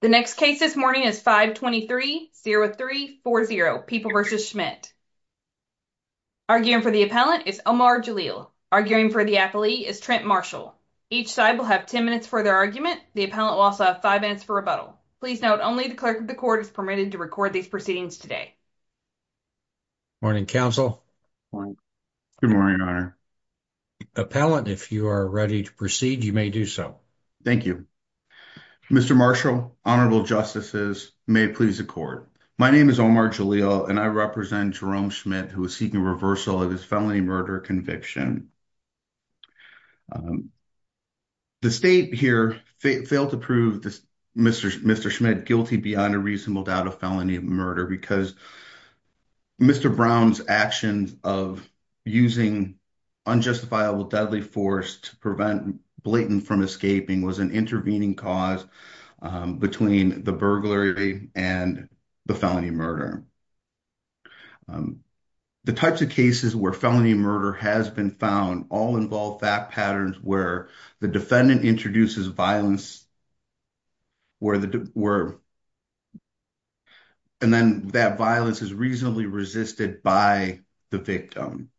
The next case this morning is 523-0340, People v. Schmidt. Arguing for the appellant is Omar Jalil. Arguing for the appellee is Trent Marshall. Each side will have 10 minutes for their argument. The appellant will also have 5 minutes for rebuttal. Please note, only the clerk of the court is permitted to record these proceedings today. Morning, counsel. Good morning, your honor. Appellant, if you are ready to proceed, you may do so. Thank you. Mr. Marshall, honorable justices, may it please the court. My name is Omar Jalil and I represent Jerome Schmidt who is seeking reversal of his felony murder conviction. The state here failed to prove Mr. Schmidt guilty beyond a reasonable doubt of felony murder because Mr. Brown's actions of using unjustifiable deadly force to prevent Blayton from escaping was an intervening cause between the burglary and the felony murder. The types of cases where felony murder has been found all involve fact patterns where the defendant introduces violence and then that violence is reasonably resisted by the victim.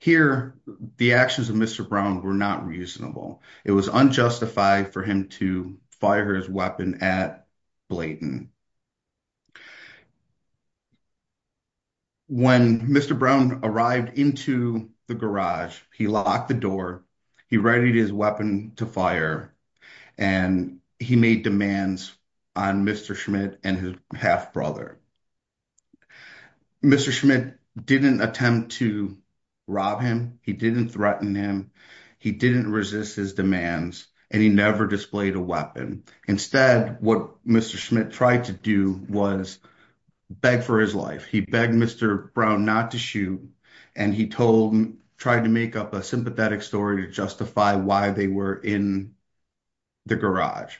Here, the actions of Mr. Brown were not reasonable. It was unjustified for him to fire his weapon at Blayton. When Mr. Brown arrived into the garage, he locked the door, he readied his weapon to fire, and he made demands on Mr. Schmidt and his half-brother. Mr. Schmidt didn't attempt to rob him, he didn't threaten him, he didn't resist his demands, and he never displayed a weapon. Instead, what Mr. Schmidt tried to do was beg for his life. He begged Mr. Brown not to shoot and he tried to make up a sympathetic story to justify why they were in the garage.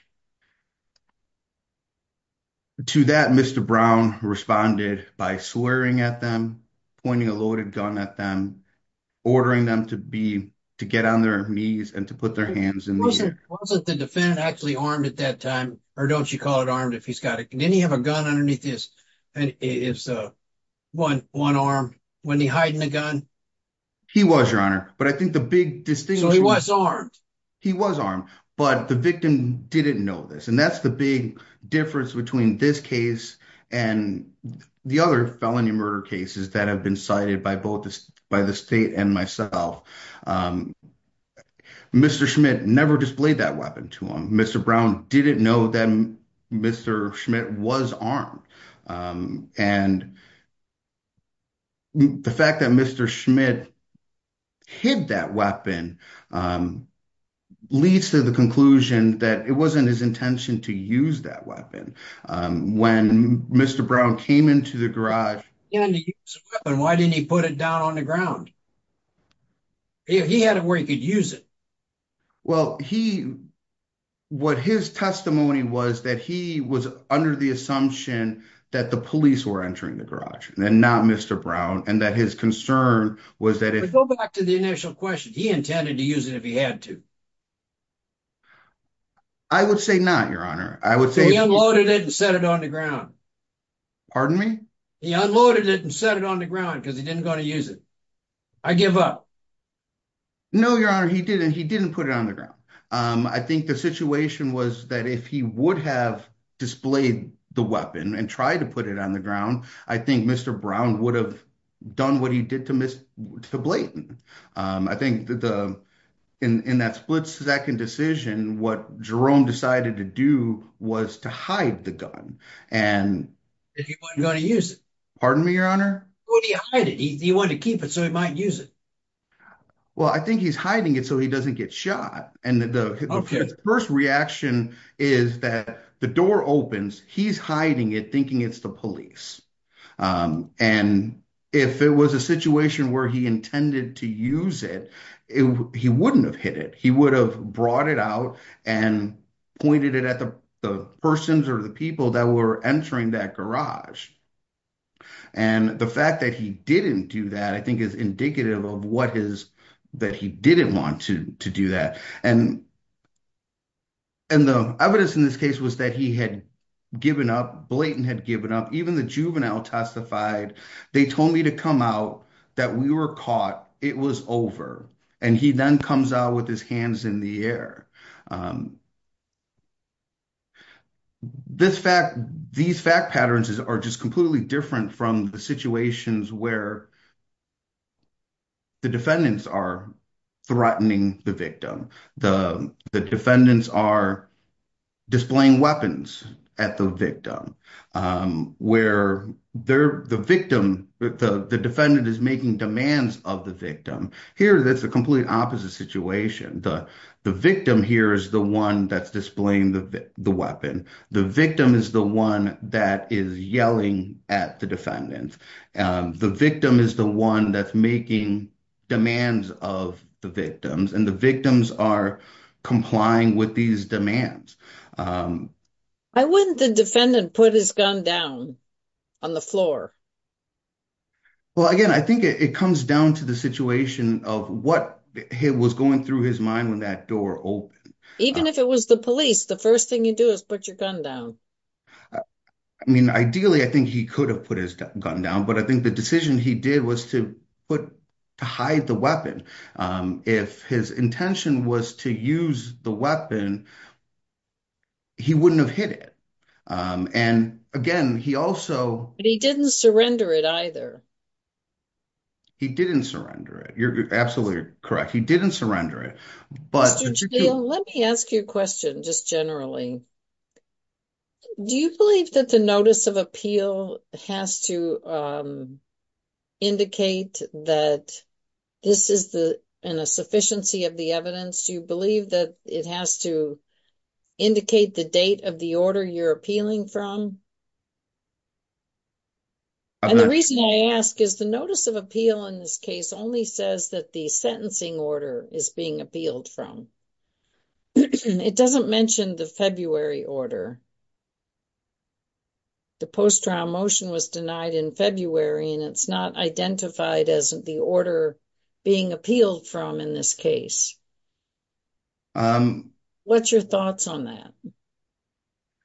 To that, Mr. Brown responded by swearing at them, pointing a loaded gun at them, ordering them to get on their knees and to put their hands in the air. Wasn't the defendant actually armed at that time or don't you call it armed if he's got it? Didn't he have a gun underneath his one arm when he's hiding the gun? He was, your honor, but I think the big distinction... He was armed, but the victim didn't know this and that's the big difference between this case and the other felony murder cases that have been cited by both by the state and myself. Mr. Schmidt never displayed that weapon to him. Mr. Brown didn't know that Mr. Schmidt was armed and the fact that Mr. Schmidt hid that weapon leads to the conclusion that it wasn't his intention to use that weapon. When Mr. Brown came into the garage... Why didn't he put it down on the ground? He had it where he could use it. Well, what his testimony was that he was under the assumption that the police were entering the garage and not Mr. Brown and that his concern was that if... Go back to the initial question. He intended to use it if he had to. I would say not, your honor. I would say... He unloaded it and set it on the ground. Pardon me? He unloaded it and set it on the ground because he didn't want to use it. I give up. No, your honor. He didn't. He didn't put it on the ground. I think the situation was that if he would have displayed the weapon and tried to put it on the ground, I think Mr. Brown would have done what he did to Blayton. I think in that split-second decision, what Jerome decided to do was to hide the gun and... That he wasn't going to use it. Pardon me, your honor? Where did he hide it? He wanted to keep it so he might use it. Well, I think he's hiding it so he doesn't get shot. And the first reaction is that the door opens. He's hiding it thinking it's the police. And if it was a situation where he intended to use it, he wouldn't have hit it. He would have brought it out and pointed it at the persons or people that were entering that garage. And the fact that he didn't do that, I think is indicative of what is that he didn't want to do that. And the evidence in this case was that he had given up, Blayton had given up. Even the juvenile testified, they told me to come out, that we were caught, it was over. And he then comes out with his hands in the air. This fact, these fact patterns are just completely different from the situations where the defendants are threatening the victim. The defendants are displaying weapons at the victim, where the victim, the defendant is making demands of the victim. Here, that's a completely opposite situation. The victim here is the one that's displaying the weapon. The victim is the one that is yelling at the defendant. The victim is the one that's making demands of the victims, and the victims are complying with these demands. I wouldn't the defendant put his gun down on the floor? Well, again, I think it comes down to the situation of what was going through his mind when that door opened. Even if it was the police, the first thing you do is put your gun down. I mean, ideally, I think he could have put his gun down, but I think the decision he did was to hide the weapon. If his intention was to use the weapon, he wouldn't have hit it. And again, he also- But he didn't surrender it either. He didn't surrender it. You're absolutely correct. He didn't surrender it. Let me ask you a question, just generally. Do you believe that the notice of appeal has to indicate that this is in a sufficiency of the evidence? Do you believe that it has to indicate the date of the order you're appealing from? And the reason I ask is the notice of appeal in this case only says that the sentencing order is being appealed from. It doesn't mention the February order. The post-trial motion was denied in February, and it's not identified as the order being appealed from in this case. What's your thoughts on that?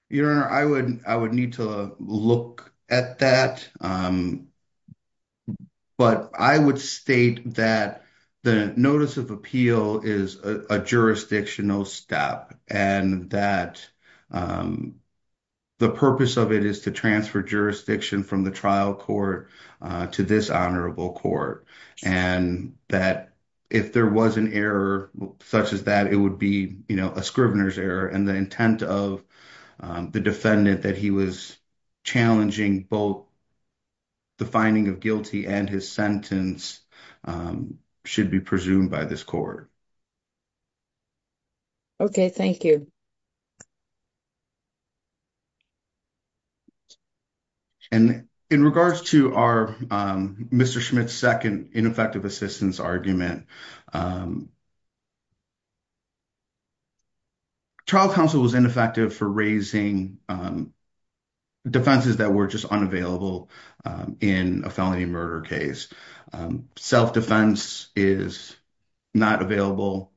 Your Honor, I would need to look at that, but I would state that the notice of appeal is a jurisdictional step and that the purpose of it is to transfer jurisdiction from the trial court to this honorable court. And that if there was an error such as that, it would be a scrivener's error. And the intent of the defendant that he was challenging both the finding of guilty and his sentence should be presumed by this court. Okay. Thank you. And in regards to our Mr. Schmitt's second ineffective assistance argument, trial counsel was ineffective for raising defenses that were just unavailable in a felony murder case. Self-defense is not available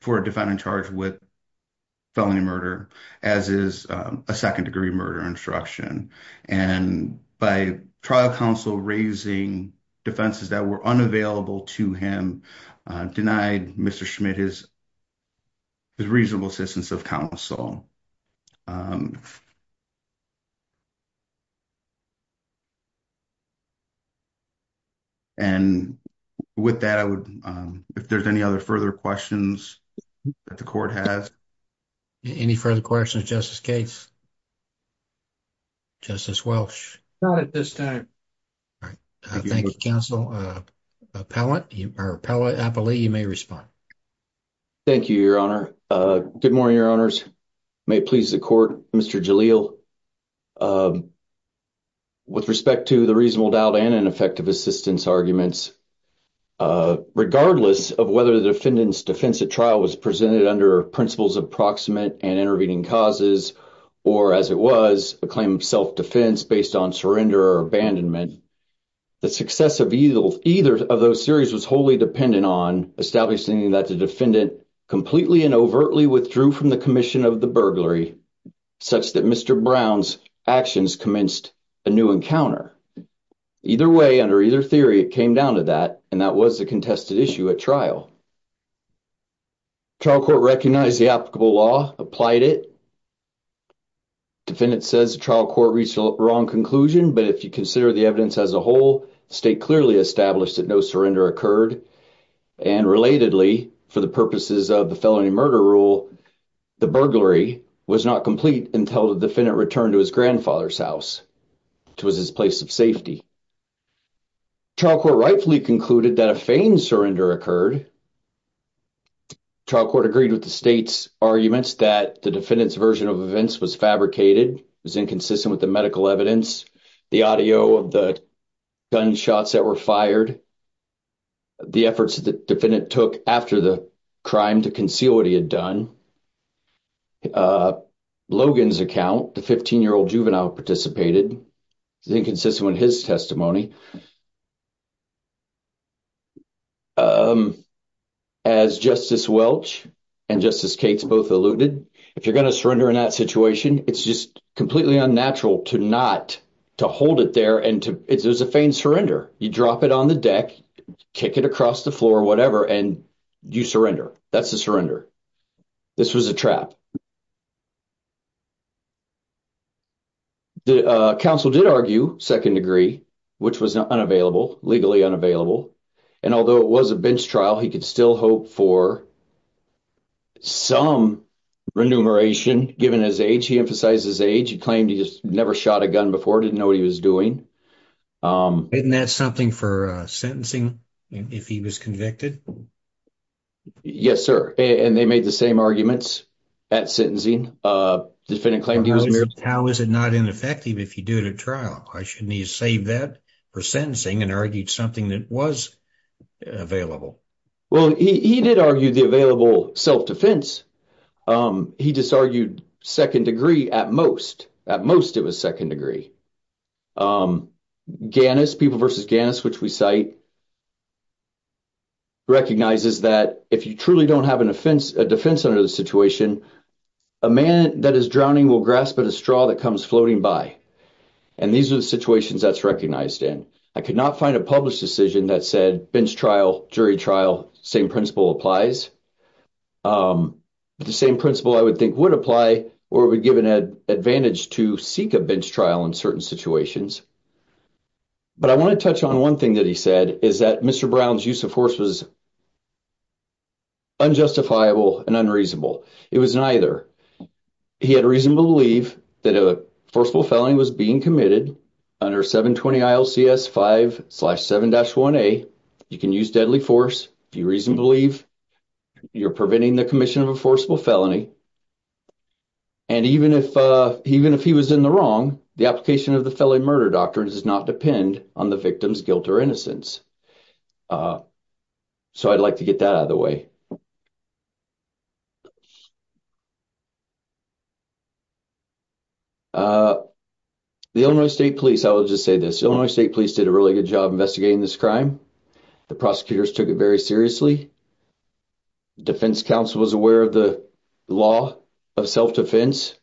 for a defendant in charge with a felony murder case. Felony murder, as is a second-degree murder instruction. And by trial counsel raising defenses that were unavailable to him denied Mr. Schmitt his reasonable assistance of counsel. And with that, I would, if there's any other further questions that the court has. Any further questions, Justice Gates? Justice Welch? Not at this time. All right. Thank you, counsel. Appellate, or appellate, I believe you may respond. Thank you, your honor. Good morning, your honors. May it please the court, Mr. Jalil. With respect to the reasonable doubt and ineffective assistance arguments, regardless of whether the defendant's defense at trial was presented under principles of proximate and intervening causes, or as it was a claim of self-defense based on surrender or abandonment, the success of either of those theories was wholly dependent on establishing that the defendant completely and overtly withdrew from the commission of the burglary, such that Mr. Brown's actions commenced a new encounter. Either way, under either theory, it came down to that, and that was the contested issue at trial. Trial court recognized the applicable law, applied it. Defendant says the trial court reached a wrong conclusion, but if you consider the evidence as a whole, the state clearly established that no surrender occurred, and relatedly, for the purposes of the felony murder rule, the burglary was not complete until the defendant returned to his grandfather's house, which was his place of safety. Trial court rightfully concluded that a feigned surrender occurred. Trial court agreed with the state's arguments that the defendant's version of events was fabricated, was inconsistent with the medical evidence, the audio of the gunshots that were fired, the efforts that the defendant took after the crime to conceal what he had done. Logan's account, the 15-year-old juvenile participated, is inconsistent with his testimony. As Justice Welch and Justice Cates both alluded, if you're going to surrender in that situation, it's just completely unnatural to not, to hold it there, and it was a feigned surrender. You drop it on the deck, kick it across the floor, whatever, and you surrender. That's a surrender. This was a trap. The counsel did argue, second degree, which was a trap. The defense did argue, second degree, legally unavailable, and although it was a bench trial, he could still hope for some remuneration given his age. He emphasized his age. He claimed he just never shot a gun before, didn't know what he was doing. Isn't that something for sentencing if he was convicted? Yes, sir, and they made the same arguments at sentencing. Defendant claimed he was I should need to save that for sentencing and argued something that was available. Well, he did argue the available self-defense. He just argued second degree at most. At most, it was second degree. Gannis, People v. Gannis, which we cite, recognizes that if you truly don't have a defense under the situation, a man that is drowning will grasp at a straw that comes floating by, and these are the situations that's recognized in. I could not find a published decision that said bench trial, jury trial, same principle applies. The same principle I would think would apply or would give an advantage to seek a bench trial in certain situations, but I want to touch on one thing that he said is that Mr. Brown's use of force was unjustifiable and unreasonable. It was neither. He had reason to believe that a forcible felony was being committed under 720 ILCS 5-7-1A. You can use deadly force if you reason to believe you're preventing the commission of a forcible felony, and even if he was in the wrong, the application of the felony murder doctrine does not depend on the victim's guilt or innocence. So I'd like to get that out of the way. The Illinois State Police, I will just say this, Illinois State Police did a really good job investigating this crime. The prosecutors took it very seriously. Defense counsel was aware of the law of self-defense,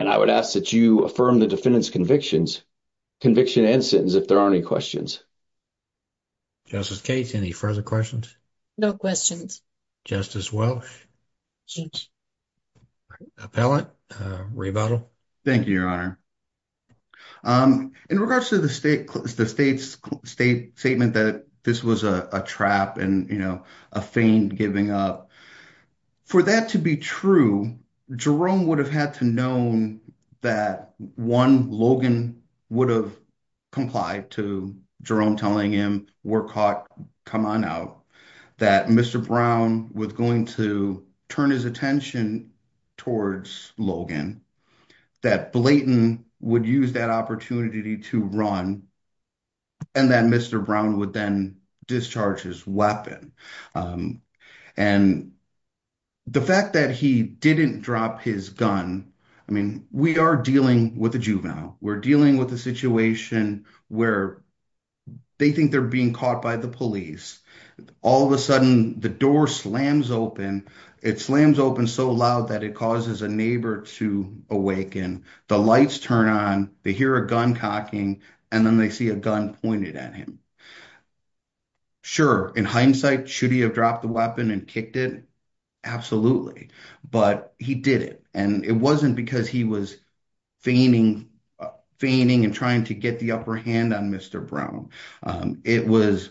and I would ask that you affirm the defendant's convictions, conviction and sentence, if there are any questions. Justice Cates, any further questions? No questions. Justice Welch? Appellate? Rebuttal? Thank you, Your Honor. In regards to the state's statement that this was a trap and a feign giving up, for that to be true, Jerome would have had to known that, one, Logan would have complied to Jerome telling him, we're caught, come on out, that Mr. Brown was going to turn his attention towards Logan, that Blayton would use that opportunity to run, and that Mr. Brown would then discharge his weapon. And the fact that he didn't drop his gun, I mean, we are dealing with a juvenile. We're dealing with a situation where they think they're being caught by the police. All of a sudden, the door slams open. It slams open so loud that it causes a neighbor to awaken. The lights turn on, they hear a gun cocking, and then they see a gun pointed at him. Sure, in hindsight, should he have dropped the weapon and kicked it? Absolutely. But he did it, and it wasn't because he was feigning and trying to get the upper hand on Mr. Brown. It was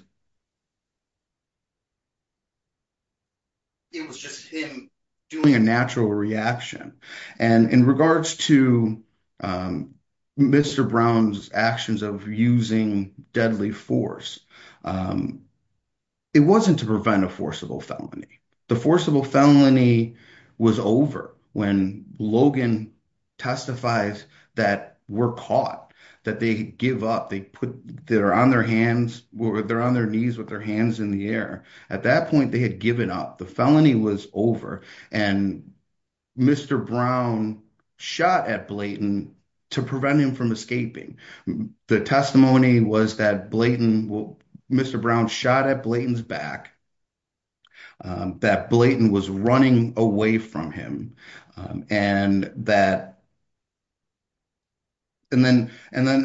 it was just him doing a natural reaction. And in regards to Mr. Brown's actions of using deadly force, it wasn't to prevent a forcible felony. The forcible felony was over when Logan testifies that we're caught, that they give up, they're on their knees with their hands in the air. At that point, they had given up. The felony was over, and Mr. Brown shot at Blayton to prevent him from escaping. The testimony was that Mr. Brown shot at Blayton's back, that Blayton was running away from him. And then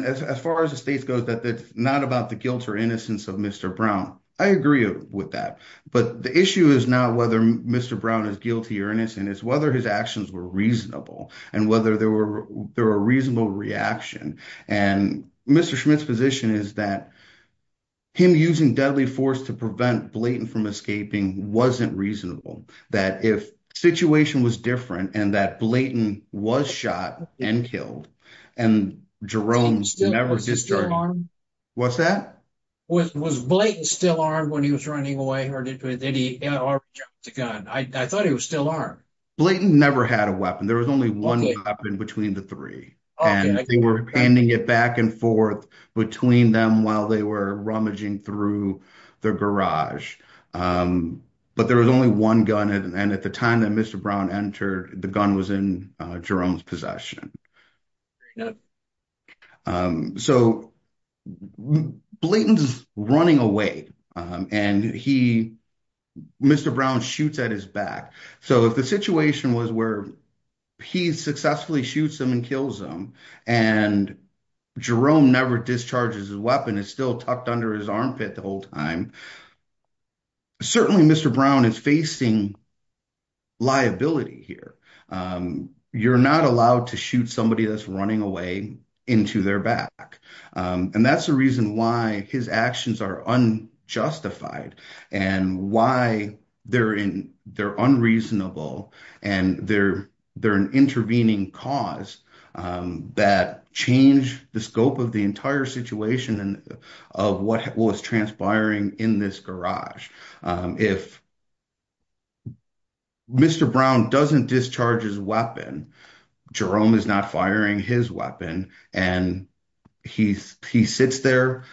as far as the state goes, it's not about the guilt or innocence of Mr. Brown. I agree with that. But the issue is not whether Mr. Brown is guilty or whether his actions were reasonable and whether there were a reasonable reaction. And Mr. Schmitt's position is that him using deadly force to prevent Blayton from escaping wasn't reasonable, that if the situation was different and that Blayton was shot and killed and Jerome never was. Was Blayton still armed when he was running away? Or did he already jump the gun? I thought he was still armed. Blayton never had a weapon. There was only one weapon between the three. And they were handing it back and forth between them while they were rummaging through their garage. But there was only one gun. And at the time that Mr. Brown entered, the gun was in Jerome's possession. So Blayton's running away and Mr. Brown shoots at his back. So if the situation was where he successfully shoots him and kills him and Jerome never discharges his weapon, it's still tucked under his armpit the whole time, certainly Mr. Brown is facing liability here. You're not allowed to shoot somebody that's running away into their back. And that's the reason why his actions are unjustified and why they're unreasonable. And they're an intervening cause that changed the scope of the entire situation and of what was transpiring in this garage. If Mr. Brown doesn't discharge his weapon, Jerome is not firing his weapon and he sits there.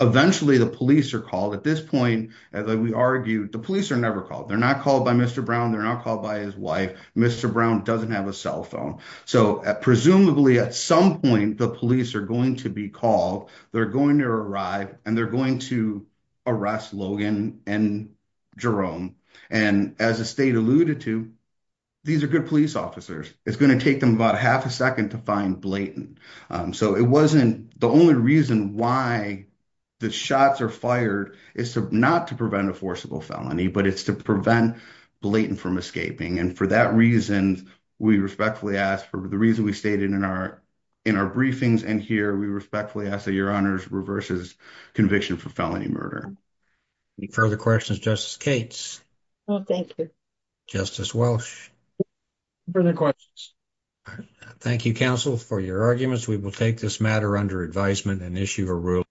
Eventually the police are called. At this point, as we argued, the police are never called. They're not called by Mr. Brown. They're not called by his wife. Mr. Brown doesn't have a cell phone. So presumably at some point the police are going to be called. They're going to arrive and they're going to arrest Logan and Jerome. And as the state alluded to, these are good police officers. It's going to take them about half a second to find Blayton. So it wasn't the only reason why the shots are fired is not to prevent a forcible felony, but it's to prevent Blayton from escaping. And for that reason, we respectfully ask for the we stated in our briefings and here, we respectfully ask that your honors reverses conviction for felony murder. Any further questions, Justice Cates? No, thank you. Justice Welsh? Further questions? Thank you, counsel, for your arguments. We will take this matter under advisement and issue a ruling.